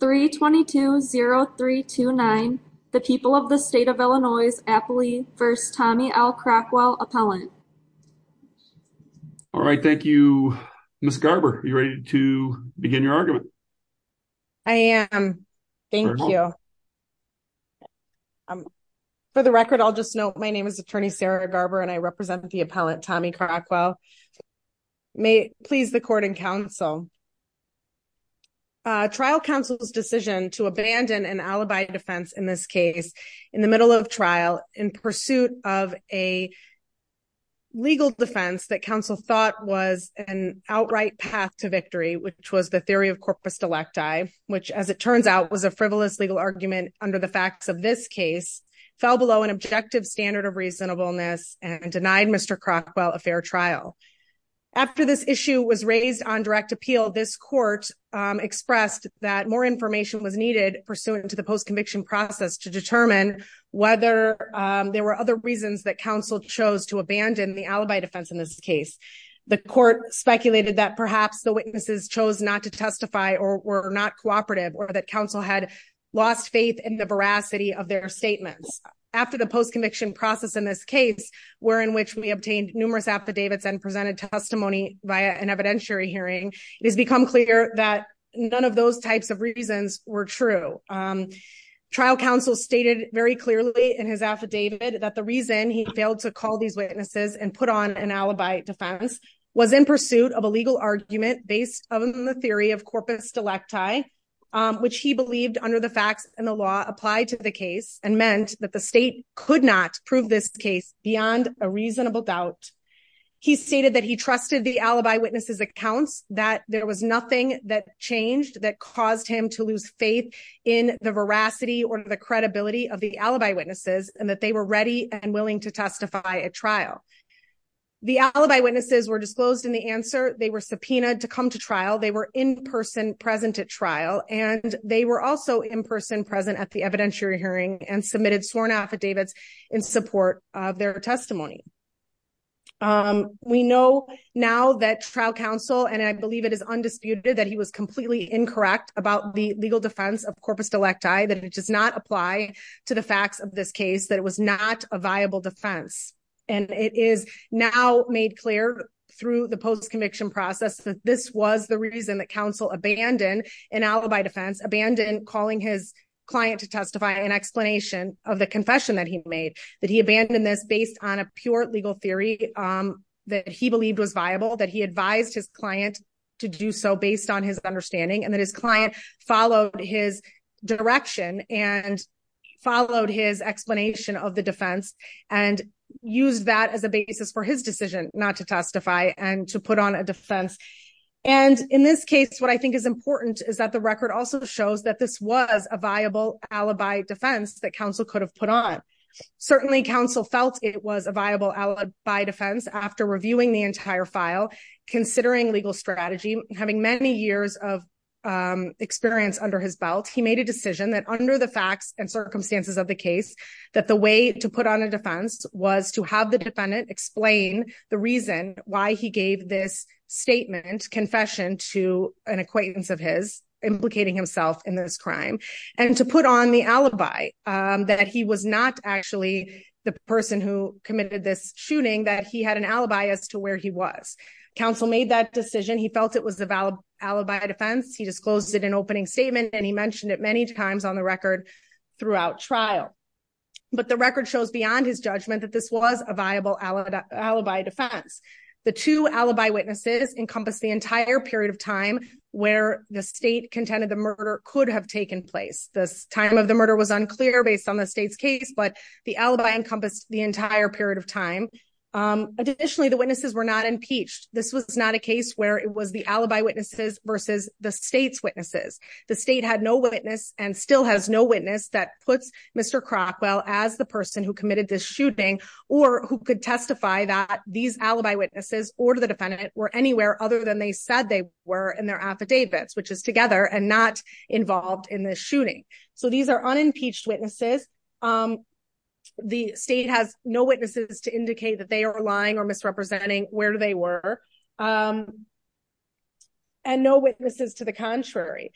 322-0329 the people of the state of Illinois's aptly first Tommy L. Crockwell appellant. All right, thank you. Ms. Garber, are you ready to begin your argument? I am. Thank you. For the record, I'll just note my name is attorney Sarah Garber and I represent the decision to abandon an alibi defense in this case in the middle of trial in pursuit of a legal defense that counsel thought was an outright path to victory, which was the theory of corpus delecti, which, as it turns out, was a frivolous legal argument under the facts of this case, fell below an objective standard of reasonableness and denied Mr. Crockwell a fair trial. After this issue was raised on direct appeal, this court expressed that more information was needed pursuant to the post-conviction process to determine whether there were other reasons that counsel chose to abandon the alibi defense in this case. The court speculated that perhaps the witnesses chose not to testify or were not cooperative or that counsel had lost faith in the veracity of their statements. After the post-conviction process in this case, wherein which we obtained numerous affidavits and presented testimony via an evidentiary hearing, it has become clear that none of those types of reasons were true. Trial counsel stated very clearly in his affidavit that the reason he failed to call these witnesses and put on an alibi defense was in pursuit of a legal argument based on the theory of corpus delecti, which he believed under the facts and the law applied to the case and meant that the state could not prove this case beyond a reasonable doubt. He stated that he trusted the alibi witnesses' accounts, that there was nothing that changed that caused him to lose faith in the veracity or the credibility of the alibi witnesses, and that they were ready and willing to testify at trial. The alibi witnesses were disclosed in the answer, they were subpoenaed to come to trial, they were in person present at trial, and they were also in person present at the evidentiary hearing and submitted sworn affidavits in support of their testimony. We know now that trial counsel, and I believe it is undisputed, that he was completely incorrect about the legal defense of corpus delecti, that it does not apply to the facts of this case, that it was not a viable defense. And it is now made clear through the post-conviction process that this was the reason that counsel abandoned an alibi defense, abandoned calling his client to testify, an explanation of the confession that he made, that he abandoned this based on a pure legal theory that he believed was viable, that he advised his client to do so based on his understanding, and that his client followed his direction and followed his explanation of the defense and used that as a basis for his decision not to testify and to put on a defense. And in this case, what I think is important is that the record also shows that this was a viable alibi defense that counsel could have put on. Certainly, counsel felt it was a viable alibi defense after reviewing the entire file, considering legal strategy, having many years of experience under his belt, he made a decision that under the facts and circumstances of the case, that the way to put on a defense was to have the defendant explain the reason why he gave this statement, confession to an acquaintance of his, implicating himself in this crime, and to put on the alibi, that he was not actually the person who committed this shooting, that he had an alibi as to where he was. Counsel made that decision, he felt it was a valid alibi defense, he disclosed it in opening statement, and he mentioned it many times on the record throughout trial. But the record shows beyond his judgment that this was a viable alibi defense. The two alibi witnesses encompass the entire period of time where the state contended the murder could have taken place. The time of the murder was unclear based on the state's case, but the alibi encompassed the entire period of time. Additionally, the witnesses were not impeached. This was not a case where it was the alibi witnesses versus the state's witnesses. The state had no witness and still has no witness that puts Mr. Crockwell as the person who committed this shooting, or who could testify that these alibi witnesses or the defendant were anywhere other than they said they were in their affidavits, which is together and not involved in the shooting. So these are unimpeached witnesses. The state has no witnesses to indicate that they are lying or misrepresenting where they were, and no witnesses to the contrary.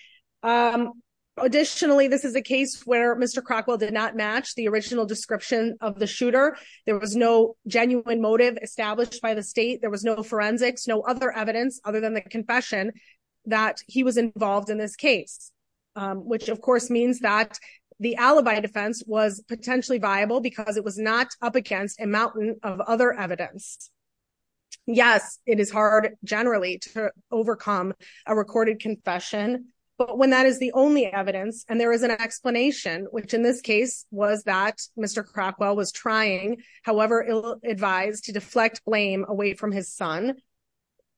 Additionally, this is a case where Mr. Crockwell did not match the original description of the shooter. There was no genuine motive established by the state. There was no forensics, no other evidence other than the confession that he was involved in this case, which of course means that the alibi defense was potentially viable because it was not up against a mountain of other evidence. Yes, it is hard generally to overcome a recorded confession, but when that is the only evidence and there is an explanation, which in this case was that Mr. Crockwell was trying, however ill-advised, to deflect blame away from his son,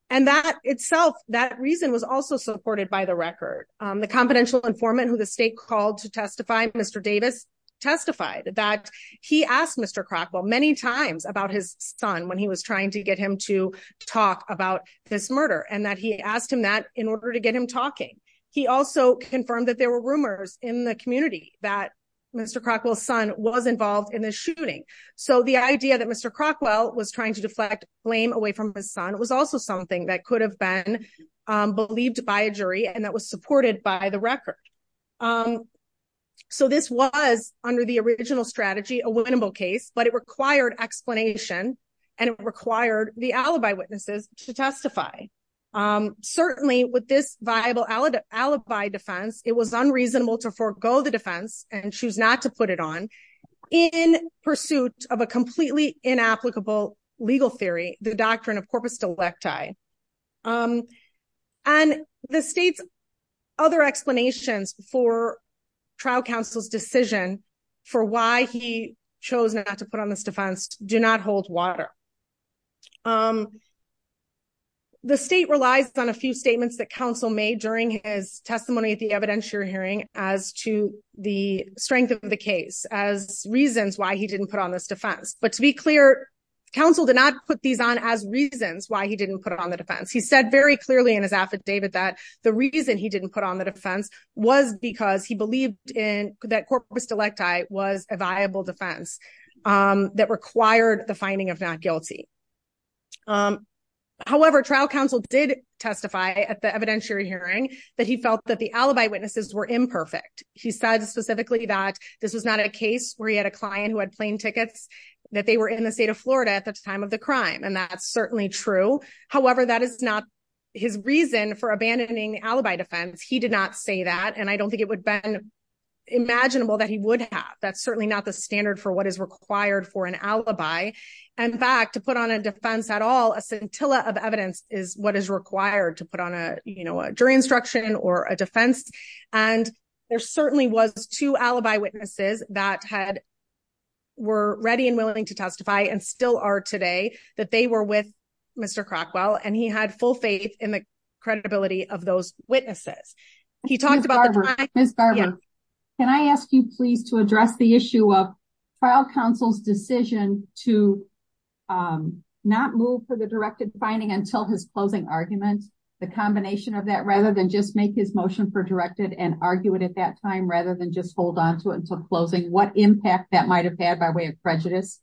and that itself, that reason was also supported by the record. The confidential informant who the state called to testify, Mr. Davis, testified that he asked Mr. Crockwell many times about his son when he was trying to get him to talk about this murder, and that he asked him that in order to get him talking. He also confirmed that there were rumors in the community that Mr. Crockwell's son was involved in the shooting. So, the idea that Mr. Crockwell was trying to deflect blame away from his son was also something that could have been believed by a jury and that was supported by the record. So, this was, under the original strategy, a winnable case, but it required explanation and it required the alibi witnesses to testify. Certainly, with this viable alibi defense, it was unreasonable to forgo the defense and choose not to put it on in pursuit of a completely inapplicable legal theory, the doctrine of corpus delecti. And the state's other explanations for trial counsel's decision for why he chose not to put on this defense do not hold water. The state relies on a few statements that counsel made during his testimony at the evidentiary hearing as to the strength of the case, as reasons why he didn't put on this defense. But to be clear, counsel did not put these on as reasons why he didn't put on the defense. He said very clearly in his affidavit that the reason he didn't put on the defense was because he believed in that corpus delecti was a viable defense that required the finding of not guilty. However, trial counsel did testify at the evidentiary hearing that he felt that the alibi witnesses were imperfect. He said specifically that this was not a case where he had a client who had plane tickets, that they were in the state of Florida at the time of the crime, and that's certainly true. However, that is not his reason for abandoning alibi defense. He did not say that, and I don't think it would have been imaginable that he would have. That's certainly not the standard for what is required for an alibi. In fact, to put on a defense at all, a scintilla of evidence is what is required to put on a jury instruction or a defense. And there certainly was two alibi witnesses that were ready and willing to testify and still are today, that they were with Mr. Crockwell, and he had full faith in the credibility of those witnesses. He talked about- Ms. Barber, can I ask you please to address the issue of trial counsel's decision to not move for the directed finding until his closing argument, the combination of that, rather than just make his motion for directed and argue it at that time, rather than just hold on to it until closing? What impact that might have had by way of prejudice?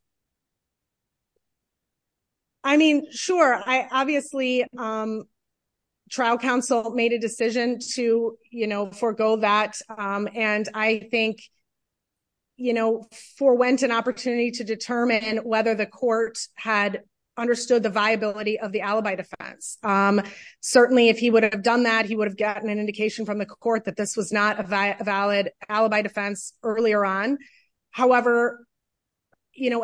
I mean, sure. Obviously, trial counsel made a decision to forego that, and I think forewent an opportunity to determine whether the court had understood the viability of the alibi defense. Certainly, if he would have done that, he would have gotten an indication from the court that this was not a valid alibi defense earlier on. However,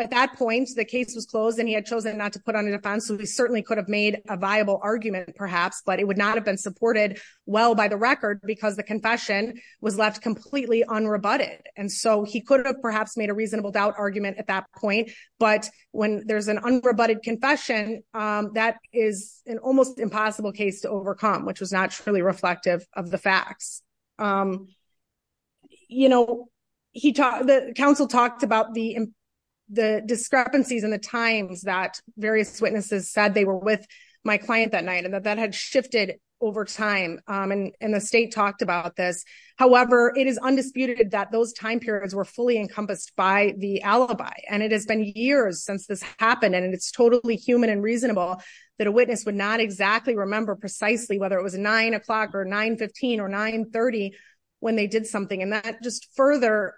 at that point, the case was closed and he had chosen not to put on a defense, so he certainly could have made a viable argument, perhaps, but it would not have been supported well by the record because the confession was left completely unrebutted. And so he could have perhaps made a reasonable doubt argument at that point. But when there's an unrebutted confession, that is an almost impossible case to overcome, which was not truly reflective of the facts. You know, the counsel talked about the discrepancies in the times that various witnesses said they were with my client that night and that that had shifted over time. And the state talked about this. However, it is undisputed that those time periods were fully encompassed by the alibi. And it has been years since this happened. And it's totally human and reasonable that a witness would not exactly remember precisely whether it was nine o'clock or 915 or 930 when they did something. And that just further,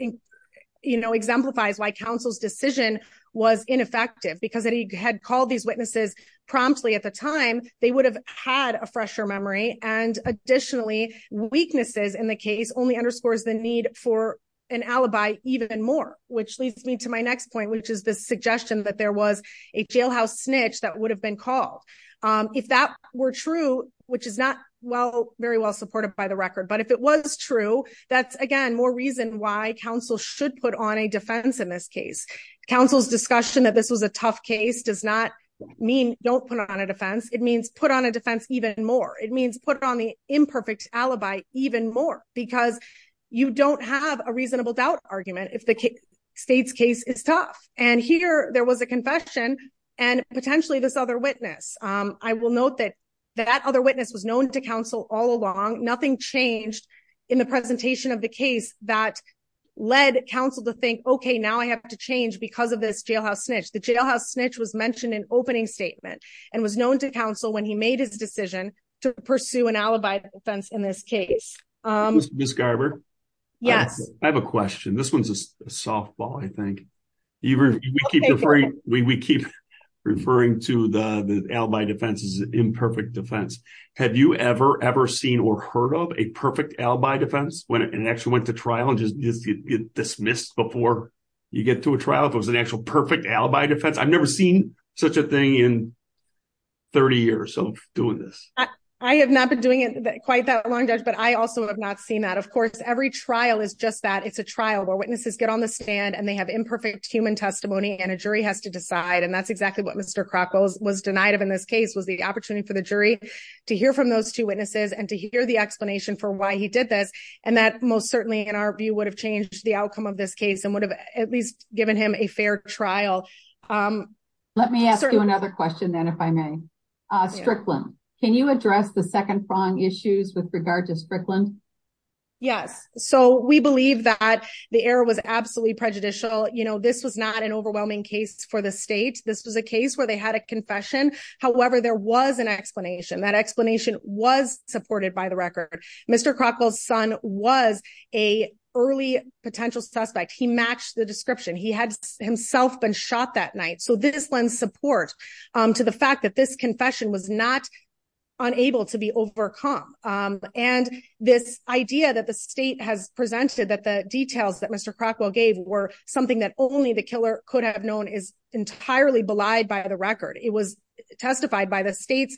you know, exemplifies why counsel's decision was ineffective because he had called these witnesses promptly at the time they would have had a fresher memory. And additionally, weaknesses in the case only underscores the need for an alibi even more, which leads me to my next point, which is the suggestion that there was a jailhouse snitch that would have been called. If that were true, which is not well, very well supported by the record. But if it was true, that's again, more reason why counsel should put on a defense in this case. counsel's discussion that this was a tough case does not mean don't put on a defense, it means put on a defense even more, it means put on the imperfect alibi even more, because you don't have a reasonable doubt argument if the state's case is tough. And here there was a note that that other witness was known to counsel all along, nothing changed in the presentation of the case that led counsel to think, okay, now I have to change because of this jailhouse snitch. The jailhouse snitch was mentioned in opening statement and was known to counsel when he made his decision to pursue an alibi defense in this case. Miss Garber? Yes. I have a question. This imperfect defense. Have you ever ever seen or heard of a perfect alibi defense when it actually went to trial and just get dismissed before you get to a trial if it was an actual perfect alibi defense? I've never seen such a thing in 30 years of doing this. I have not been doing it quite that long, Judge. But I also have not seen that. Of course, every trial is just that it's a trial where witnesses get on the stand and they have imperfect human testimony and a jury has to decide and that's exactly what Mr. Krakow was denied of in this case was the opportunity for the jury to hear from those two witnesses and to hear the explanation for why he did this. And that most certainly in our view would have changed the outcome of this case and would have at least given him a fair trial. Let me ask you another question then if I may. Strickland, can you address the second prong issues with regard to Strickland? Yes. So we believe that the error was absolutely prejudicial. You know, this was not an overwhelming case for the state. This was a case where they had a confession. However, there was an explanation. That explanation was supported by the record. Mr. Krakow's son was a early potential suspect. He matched the description. He had himself been shot that night. So this lends support to the fact that this confession was not unable to be overcome. And this idea that the state has presented that the details that Mr. Krakow gave were something that only the killer could have known is entirely belied by the record. It was testified by the state's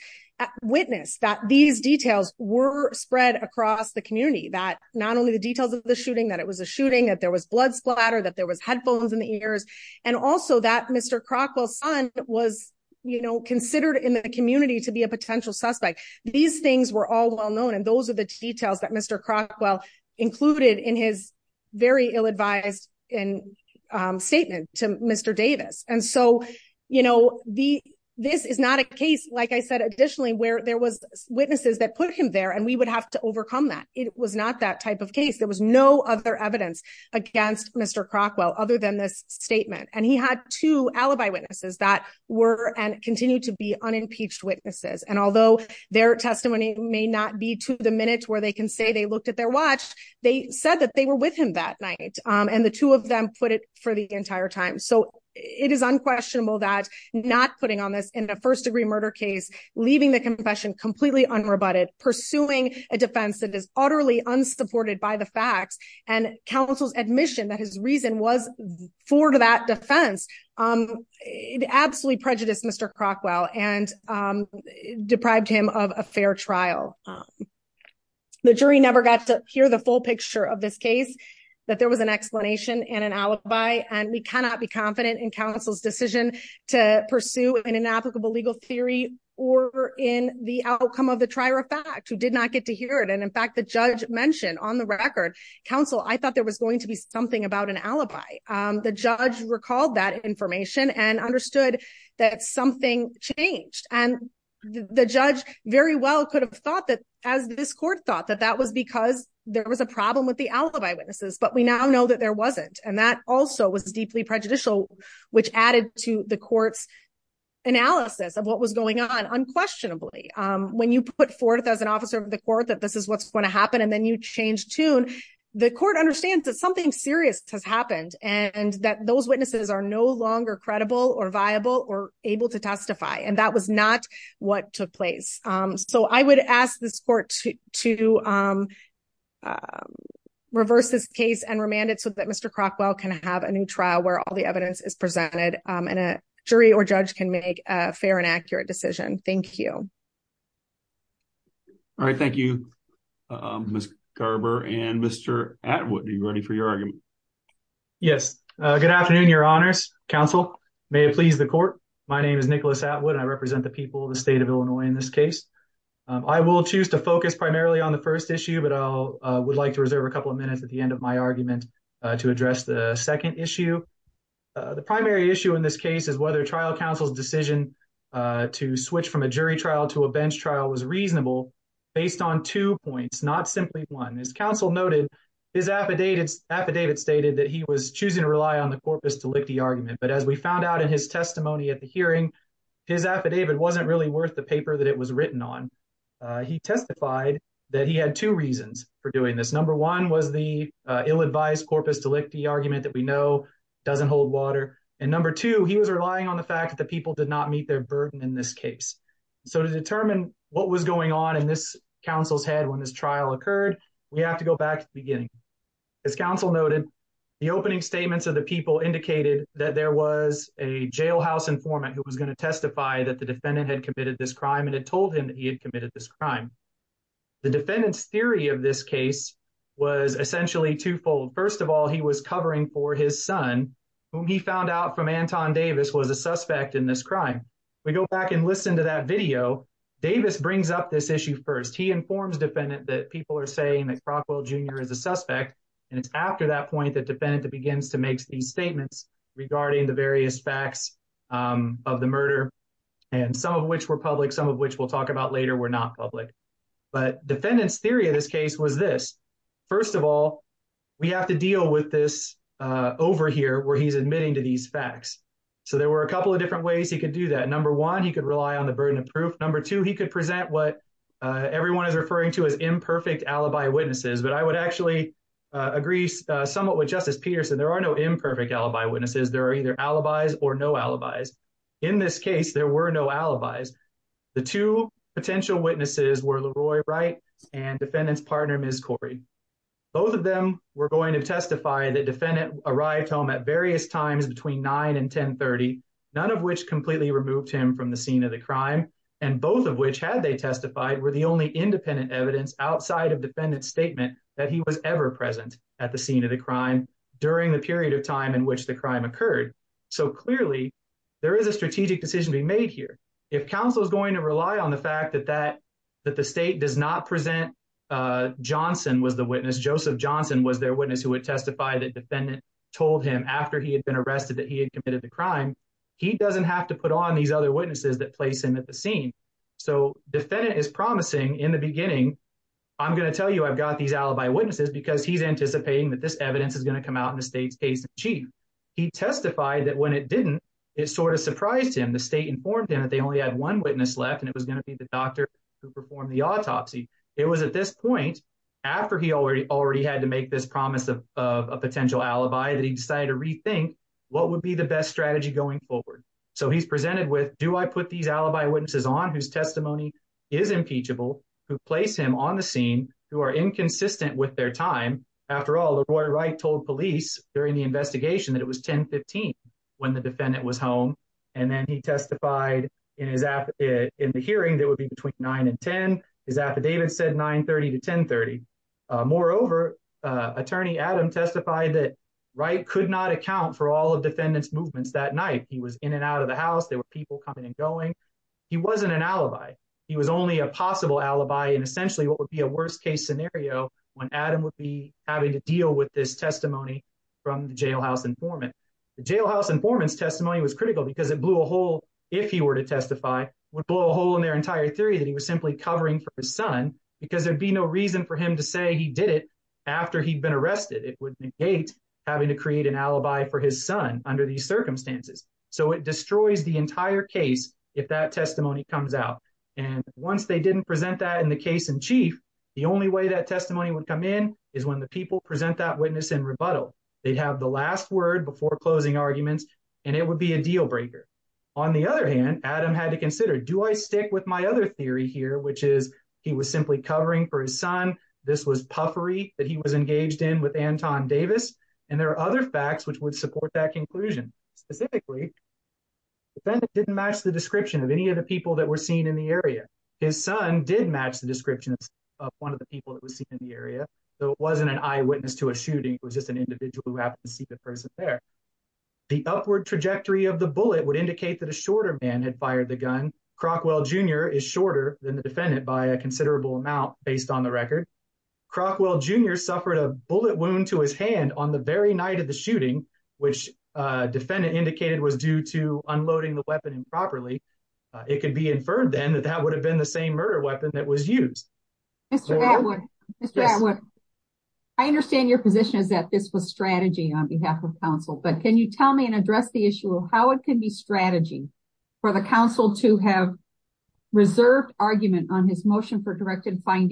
witness that these details were spread across the community. That not only the details of the shooting, that it was a shooting, that there was blood splatter, that there was headphones in the ears, and also that Mr. Krakow's son was, you know, considered in the community to be a potential suspect. These things were all well known. And those are the details that Mr. Krakow included in his very ill-advised statement to Mr. Davis. And so, you know, this is not a case, like I said additionally, where there was witnesses that put him there and we would have to overcome that. It was not that type of case. There was no other evidence against Mr. Krakow other than this statement. And he had two alibi witnesses that were and continue to be unimpeached witnesses. And although their testimony may not be to the minute where they can say they looked at their watch, they said that they were with him that night. And the two of them put it for the entire time. So it is unquestionable that not putting on this in a first-degree murder case, leaving the confession completely unrebutted, pursuing a defense that is utterly unsupported by the facts, and counsel's admission that his reason was for that defense, it absolutely prejudiced Mr. Krakow. And it deprived him of a fair trial. The jury never got to hear the full picture of this case, that there was an explanation and an alibi. And we cannot be confident in counsel's decision to pursue an inapplicable legal theory or in the outcome of the trier of fact, who did not get to hear it. And in fact, the judge mentioned on the record, counsel, I thought there was going to be something about an alibi. The judge recalled that information and understood that something changed. And the judge very well could have thought that as this court thought that that was because there was a problem with the alibi witnesses, but we now know that there wasn't. And that also was deeply prejudicial, which added to the court's analysis of what was going on unquestionably. When you put forth as an officer of the court that this is what's going to happen, and then you change tune, the court understands that something serious has happened and that those witnesses are no longer credible or viable or able to testify. And that was not what took place. So I would ask this court to reverse this case and remand it so that Mr. Krakow can have a new trial where all the evidence is presented, and a jury or judge can make a fair and accurate decision. Thank you. All right. Thank you, Ms. Garber and Mr. Atwood. Are you ready for your argument? Yes. Good afternoon, Your Honors. Counsel, may it please the court. My name is Nicholas Atwood. I represent the people of the state of Illinois in this case. I will choose to focus primarily on the first issue, but I would like to reserve a couple of minutes at the end of my argument to address the second issue. The primary issue in this case is whether trial counsel's decision to switch from a jury trial to a bench trial was reasonable based on two points, not simply one. As counsel noted, his affidavit stated that he was choosing to rely on the corpus delicti argument. But as we found out in his testimony at the hearing, his affidavit wasn't really worth the paper that it was written on. He testified that he had two reasons for doing this. Number one was the ill-advised corpus delicti argument that we know doesn't hold water. And number two, he was relying on the fact that the people did not meet their burden in this case. So to determine what was going on in this counsel's head when this trial occurred, we have to go back to the beginning. As counsel noted, the opening statements of the people indicated that there was a jailhouse informant who was going to testify that the defendant had committed this crime and had told him that he had committed this crime. The defendant's theory of this case was essentially twofold. First of all, he was covering for his son, whom he found out from Anton Davis was a suspect in this crime. We go back and listen to that video. Davis brings up this issue first. He informs the defendant that people are saying that Crockwell Jr. is a suspect, and it's after that point that the defendant begins to make these statements regarding the various facts of the murder, and some of which were public, some of which we'll talk about later were not public. But defendant's theory of this case was this. First of all, we have to deal with this over here where he's admitting to these facts. So there were a couple of different ways he could do that. Number one, he could rely on the burden of proof. Number two, he could present what everyone is referring to as imperfect alibi witnesses. But I would actually agree somewhat with Justice Peterson. There are no imperfect alibi witnesses. There are either there were no alibis. The two potential witnesses were Leroy Wright and defendant's partner, Ms. Corrie. Both of them were going to testify that defendant arrived home at various times between 9 and 10 30, none of which completely removed him from the scene of the crime, and both of which had they testified were the only independent evidence outside of defendant's statement that he was ever present at the scene of the crime during the period of time in which crime occurred. So clearly, there is a strategic decision to be made here. If counsel is going to rely on the fact that the state does not present Johnson was the witness, Joseph Johnson was their witness who would testify that defendant told him after he had been arrested that he had committed the crime, he doesn't have to put on these other witnesses that place him at the scene. So defendant is promising in the beginning, I'm going to tell you I've got these alibi witnesses because he's anticipating that this evidence is going to come out in the state's case in chief. He testified that when it didn't, it sort of surprised him. The state informed him that they only had one witness left and it was going to be the doctor who performed the autopsy. It was at this point after he already had to make this promise of a potential alibi that he decided to rethink what would be the best strategy going forward. So he's presented with do I put these alibi witnesses on whose testimony is impeachable, who place him on the scene, who are inconsistent with their time. After all, Roy Wright told police during the investigation that it was 1015 when the defendant was home. And then he testified in the hearing that would be between nine and 10. His affidavit said 930 to 1030. Moreover, attorney Adam testified that Wright could not account for all of defendants movements that night. He was in and out of the house. There were people coming and going. He wasn't an alibi. He was only a possible alibi and essentially what be a worst case scenario when Adam would be having to deal with this testimony from the jailhouse informant. The jailhouse informant's testimony was critical because it blew a hole if he were to testify, would blow a hole in their entire theory that he was simply covering for his son because there'd be no reason for him to say he did it after he'd been arrested. It would negate having to create an alibi for his son under these circumstances. So it destroys the entire case if that testimony comes out. And once they didn't present that in the case in chief, the only way that testimony would come in is when the people present that witness in rebuttal. They'd have the last word before closing arguments and it would be a deal breaker. On the other hand, Adam had to consider, do I stick with my other theory here, which is he was simply covering for his son. This was puffery that he was engaged in with Anton Davis. And there are other facts which would support that conclusion. Specifically, the defendant didn't match the description of any of the people that were seen in the area. His son did match the description of one of the people that was seen in the area, though it wasn't an eyewitness to a shooting. It was just an individual who happened to see the person there. The upward trajectory of the bullet would indicate that a shorter man had fired the gun. Crockwell Jr. is shorter than the defendant by a considerable amount based on the record. Crockwell Jr. suffered a bullet wound to his hand on the very night of the shooting, which a defendant indicated was due to unloading the weapon improperly. It could be inferred then that that would have been the same murder weapon that was used. Mr. Atwood, I understand your position is that this was strategy on behalf of counsel, but can you tell me and address the issue of how it can be strategy for the counsel to have reserved argument on his motion for hybrid when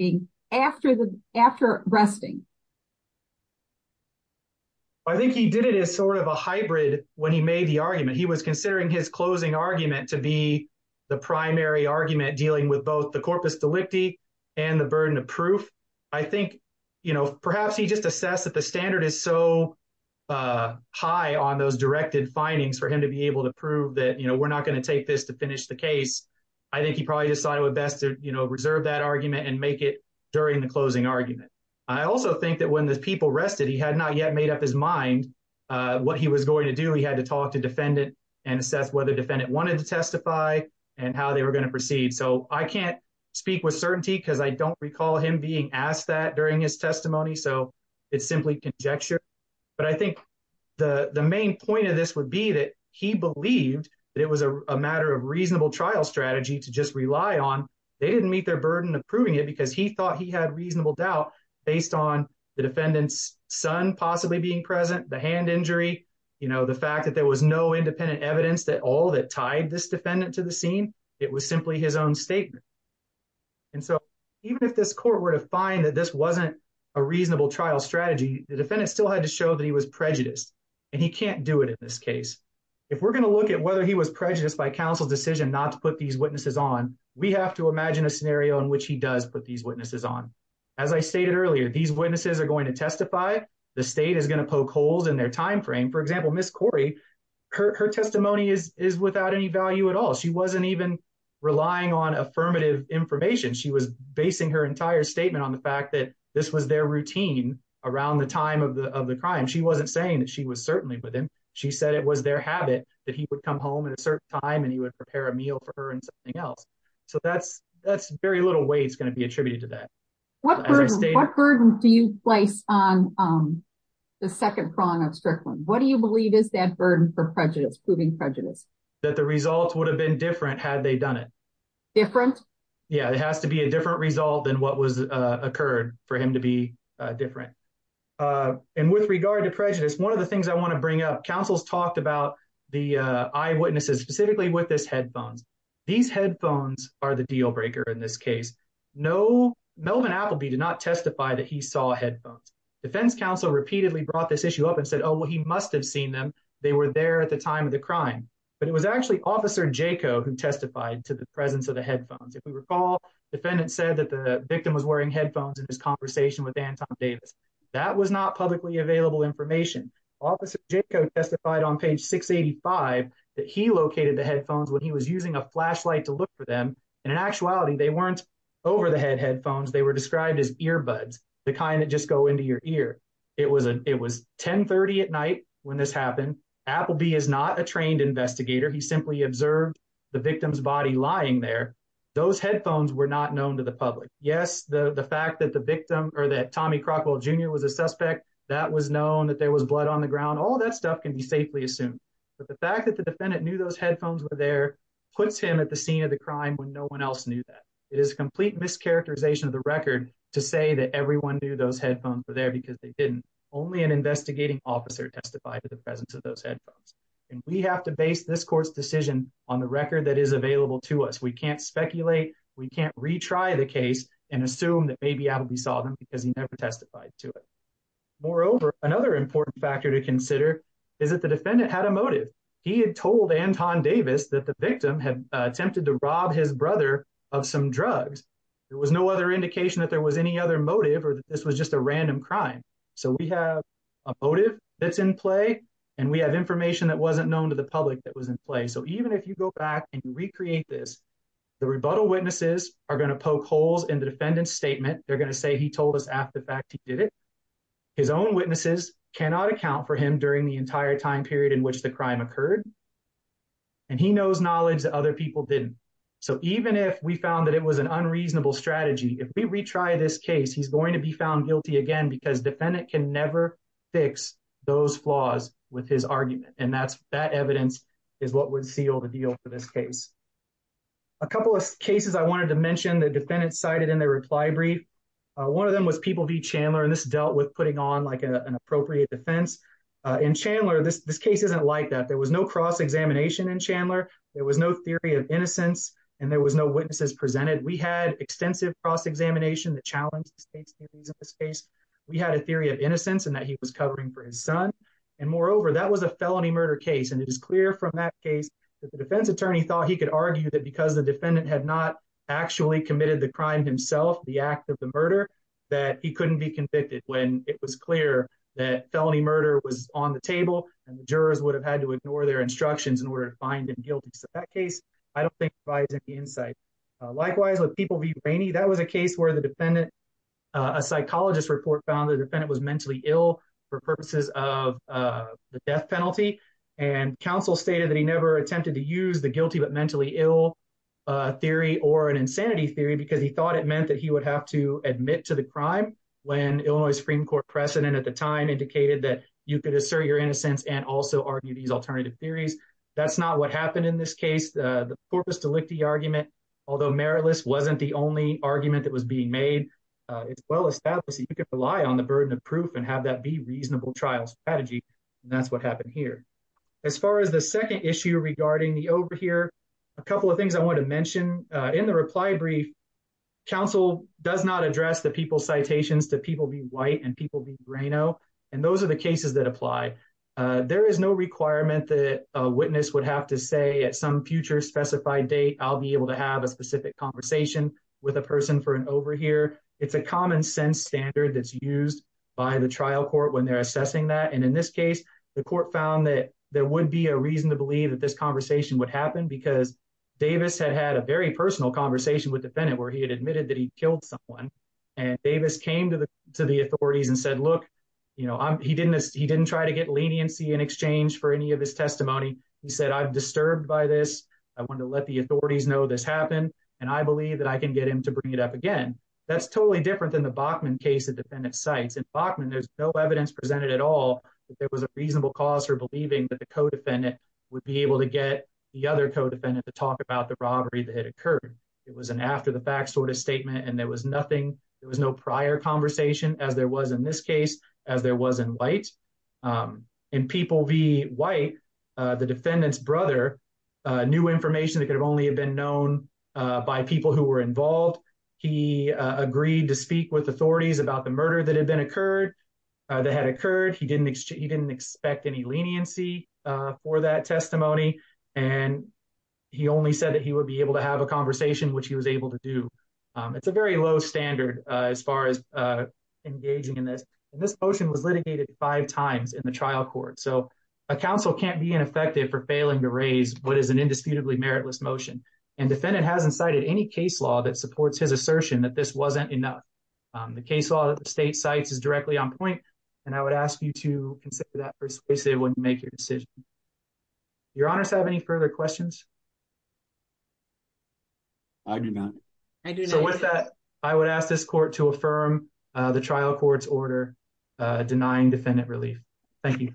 he made the argument? He was considering his closing argument to be the primary argument dealing with both the corpus delicti and the burden of proof. I think perhaps he just assessed that the standard is so high on those directed findings for him to be able to prove that we're not going to take this to finish the case. I think he probably decided it would be best to reserve that argument and make it during the closing argument. I also think that when the people rested, he had not yet made up his mind what he was going to do. He had to talk to defendant and assess whether defendant wanted to testify and how they were going to proceed. So I can't speak with certainty because I don't recall him being asked that during his testimony. So it's simply conjecture. But I think the main point of this would be that he believed that it was a matter of reasonable trial strategy to just rely on. They didn't meet their burden of because he thought he had reasonable doubt based on the defendant's son possibly being present, the hand injury, you know, the fact that there was no independent evidence that all that tied this defendant to the scene. It was simply his own statement. And so even if this court were to find that this wasn't a reasonable trial strategy, the defendant still had to show that he was prejudiced and he can't do it in this case. If we're going to look at whether he was prejudiced by counsel's not to put these witnesses on, we have to imagine a scenario in which he does put these witnesses on. As I stated earlier, these witnesses are going to testify. The state is going to poke holes in their time frame. For example, Ms. Corey, her testimony is without any value at all. She wasn't even relying on affirmative information. She was basing her entire statement on the fact that this was their routine around the time of the crime. She wasn't saying that she was certainly with him. She said it was their habit that he would come home at a certain time and he would prepare a meal for her and something else. So that's very little weight is going to be attributed to that. What burden do you place on the second prong of Strickland? What do you believe is that burden for prejudice, proving prejudice? That the results would have been different had they done it. Different? Yeah, it has to be a different result than what was occurred for him to be different. And with regard to prejudice, one of the things I want to bring up, counsels talked about the eyewitnesses specifically with this headphones. These headphones are the deal breaker in this case. Melvin Appleby did not testify that he saw headphones. Defense counsel repeatedly brought this issue up and said, oh, well, he must have seen them. They were there at the time of the crime. But it was actually Officer Jaco who testified to the presence of the headphones. If we recall, defendant said that the victim was wearing headphones in this conversation with Appleby. That was not publicly available information. Officer Jaco testified on page 685 that he located the headphones when he was using a flashlight to look for them. And in actuality, they weren't over the head headphones. They were described as earbuds, the kind that just go into your ear. It was 1030 at night when this happened. Appleby is not a trained investigator. He simply observed the victim's body lying there. Those headphones were not known to the public. Yes, the fact that the victim or that Tommy Crockwell Jr. was a suspect, that was known, that there was blood on the ground, all that stuff can be safely assumed. But the fact that the defendant knew those headphones were there puts him at the scene of the crime when no one else knew that. It is a complete mischaracterization of the record to say that everyone knew those headphones were there because they didn't. Only an investigating officer testified to the presence of those headphones. And we have to base this court's on the record that is available to us. We can't speculate. We can't retry the case and assume that maybe Appleby saw them because he never testified to it. Moreover, another important factor to consider is that the defendant had a motive. He had told Anton Davis that the victim had attempted to rob his brother of some drugs. There was no other indication that there was any other motive or that this was just a random crime. So we have a motive that's in play and we have information that wasn't known to the public that was in play. So even if you go back and recreate this, the rebuttal witnesses are going to poke holes in the defendant's statement. They're going to say he told us after the fact he did it. His own witnesses cannot account for him during the entire time period in which the crime occurred. And he knows knowledge that other people didn't. So even if we found that it was an unreasonable strategy, if we retry this case, he's going to be found guilty again because defendant can never fix those flaws with his argument. And that's that evidence is what would seal the deal for this case. A couple of cases I wanted to mention the defendant cited in their reply brief. One of them was People v. Chandler and this dealt with putting on like an appropriate defense. In Chandler, this case isn't like that. There was no cross-examination in Chandler. There was no theory of innocence and there was no witnesses presented. We had extensive cross-examination that challenged the state's theories of this case. We had a theory of innocence and that he was covering for his son. And moreover, that was a felony murder case. And it is clear from that case that the defense attorney thought he could argue that because the defendant had not actually committed the crime himself, the act of the murder, that he couldn't be convicted when it was clear that felony murder was on the table and the jurors would have had to ignore their instructions in order to find him inside. Likewise, with People v. Rainey, that was a case where the defendant, a psychologist report found the defendant was mentally ill for purposes of the death penalty. And counsel stated that he never attempted to use the guilty but mentally ill theory or an insanity theory because he thought it meant that he would have to admit to the crime when Illinois Supreme Court precedent at the time indicated that you could assert your innocence and also argue these alternative theories. That's not what happened in this case. The Corpus Delicti argument, although meritless, wasn't the only argument that was being made. It's well established that you could rely on the burden of proof and have that be reasonable trial strategy. And that's what happened here. As far as the second issue regarding the overhear, a couple of things I want to mention. In the reply brief, counsel does not address the people citations to People v. White and People v. Reno. And those are the cases that apply. There is no requirement that a witness would have to say at some future specified date, I'll be able to have a specific conversation with a person for an overhear. It's a common sense standard that's used by the trial court when they're assessing that. And in this case, the court found that there would be a reason to believe that this conversation would happen because Davis had had a very personal conversation with the defendant where he had admitted that he killed someone. And Davis came to the authorities and said, look, he didn't try to get leniency in his testimony. He said, I'm disturbed by this. I want to let the authorities know this happened. And I believe that I can get him to bring it up again. That's totally different than the Bachman case the defendant cites. In Bachman, there's no evidence presented at all that there was a reasonable cause for believing that the co-defendant would be able to get the other co-defendant to talk about the robbery that had occurred. It was an after the fact sort of statement. And there was nothing, there was no prior conversation as there was in this case, as there was in White. In People v. White, the defendant's brother knew information that could have only have been known by people who were involved. He agreed to speak with authorities about the murder that had been occurred, that had occurred. He didn't expect any leniency for that testimony. And he only said that he would be able to have a conversation, which he was able to do. It's a very low standard as far as engaging in this. And this motion was litigated five times in the trial court. So a counsel can't be ineffective for failing to raise what is an indisputably meritless motion. And defendant hasn't cited any case law that supports his assertion that this wasn't enough. The case law that the state cites is directly on point. And I would ask you to consider that persuasive when you make your decision. Your honors have any further questions? I do not. So with that, I would ask this court to affirm the trial court's order denying defendant relief. Thank you.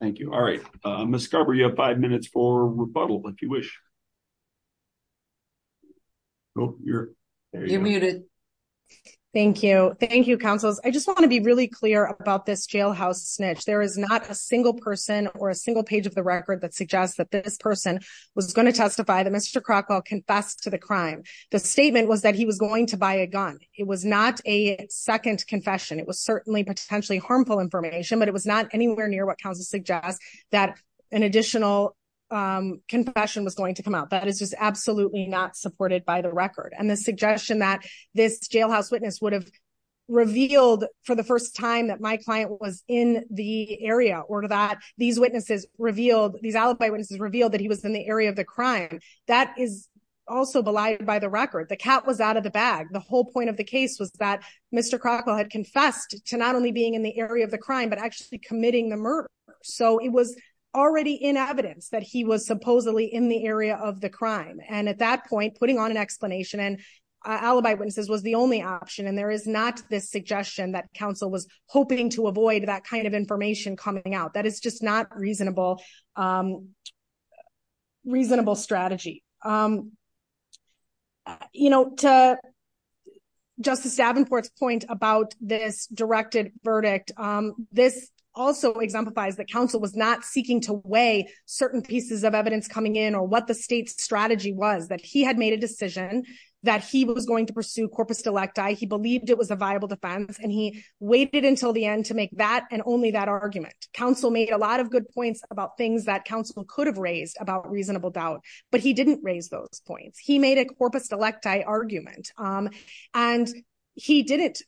Thank you. All right. Ms. Scarborough, you have five minutes for rebuttal if you wish. Oh, you're muted. Thank you. Thank you, counsels. I just want to be really clear about this jailhouse snitch. There is not a single person or a single page of the record that suggests that this person was going to testify that Mr. Crockwell confessed to the crime. The statement was that he was going to buy a gun. It was not a second confession. It was certainly potentially harmful information, but it was not anywhere near what counsel suggests that an additional confession was going to come out. That is just absolutely not supported by the record. And the suggestion that this jailhouse witness would have revealed for the first time that my client was in the area or these alibi witnesses revealed that he was in the area of the crime, that is also belied by the record. The cat was out of the bag. The whole point of the case was that Mr. Crockwell had confessed to not only being in the area of the crime, but actually committing the murder. So it was already in evidence that he was supposedly in the area of the crime. And at that point, putting on an explanation and alibi witnesses was the only option. And there is not this suggestion that counsel was hoping to avoid that kind of information coming out. That is just not a reasonable strategy. To Justice Davenport's point about this directed verdict, this also exemplifies that counsel was not seeking to weigh certain pieces of evidence coming in or what the state's strategy was, that he had made a decision that he was going to pursue corpus delecti. He believed it was a viable defense, and he waited until the end to make that and only that argument. Counsel made a lot of good points about things that counsel could have raised about reasonable doubt, but he didn't raise those points. He made a corpus delecti argument, and he didn't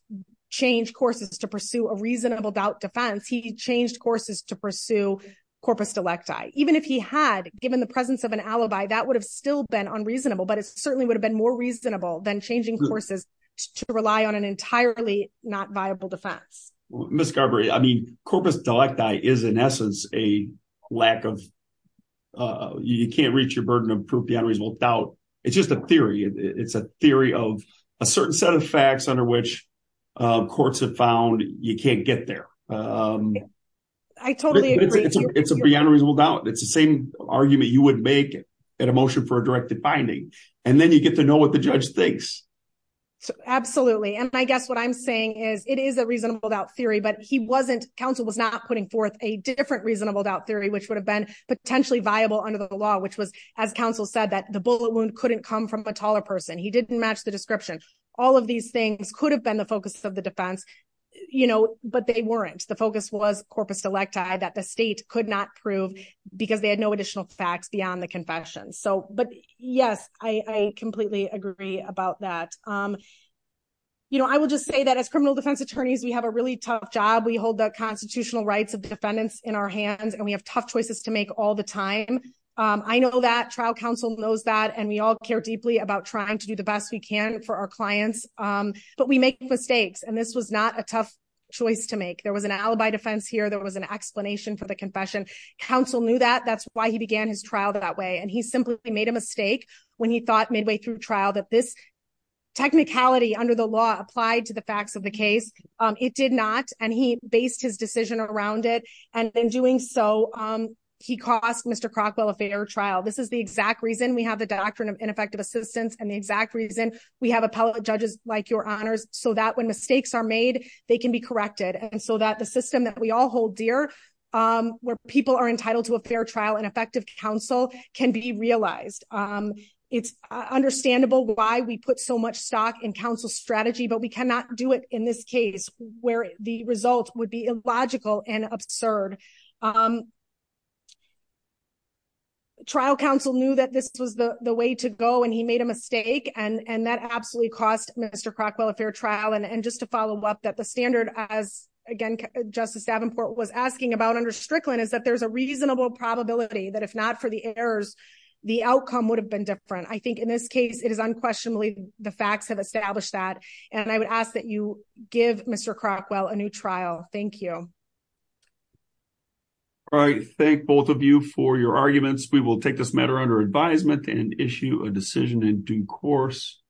change courses to pursue a reasonable doubt defense. He changed courses to pursue corpus delecti. Even if he had given the presence of an alibi, that would have still been unreasonable, but it certainly been more reasonable than changing courses to rely on an entirely not viable defense. Ms. Garber, I mean, corpus delecti is in essence a lack of, you can't reach your burden of proof beyond reasonable doubt. It's just a theory. It's a theory of a certain set of facts under which courts have found you can't get there. I totally agree. It's a beyond reasonable doubt. It's the argument you would make at a motion for a directed finding, and then you get to know what the judge thinks. Absolutely. I guess what I'm saying is it is a reasonable doubt theory, but counsel was not putting forth a different reasonable doubt theory, which would have been potentially viable under the law, which was, as counsel said, that the bullet wound couldn't come from a taller person. He didn't match the description. All of these things could have been the focus of the defense, but they weren't. The focus was corpus delecti that the state could not prove because they had no additional facts beyond the confession. Yes, I completely agree about that. I will just say that as criminal defense attorneys, we have a really tough job. We hold the constitutional rights of the defendants in our hands, and we have tough choices to make all the time. I know that. Trial counsel knows that, and we all care deeply about trying to do the best we can for our clients, but we make mistakes, and this was not a tough choice to make. There was an alibi defense here. There was an explanation for the confession. Counsel knew that. That's why he began his trial that way, and he simply made a mistake when he thought midway through trial that this technicality under the law applied to the facts of the case. It did not, and he based his decision around it, and in doing so, he cost Mr. Crockwell a fair trial. This is the exact reason we have the doctrine of ineffective assistance and the exact reason we have appellate judges like your honors so that when mistakes are made, they can be corrected, and so that the system that we all hold dear where people are entitled to a fair trial and effective counsel can be realized. It's understandable why we put so much stock in counsel's strategy, but we cannot do it in this case where the result would be illogical and absurd. Trial counsel knew that this was the way to go, and he made a mistake, and that absolutely cost Mr. Crockwell a fair trial, and just to follow up that the standard as again, Justice Davenport was asking about under Strickland is that there's a reasonable probability that if not for the errors, the outcome would have been different. I think in this case, it is unquestionably the facts have established that, and I would ask that you give Mr. Crockwell a new trial. Thank you. All right. Thank both of you for your arguments. We will take this matter under advisement and issue a decision in due course.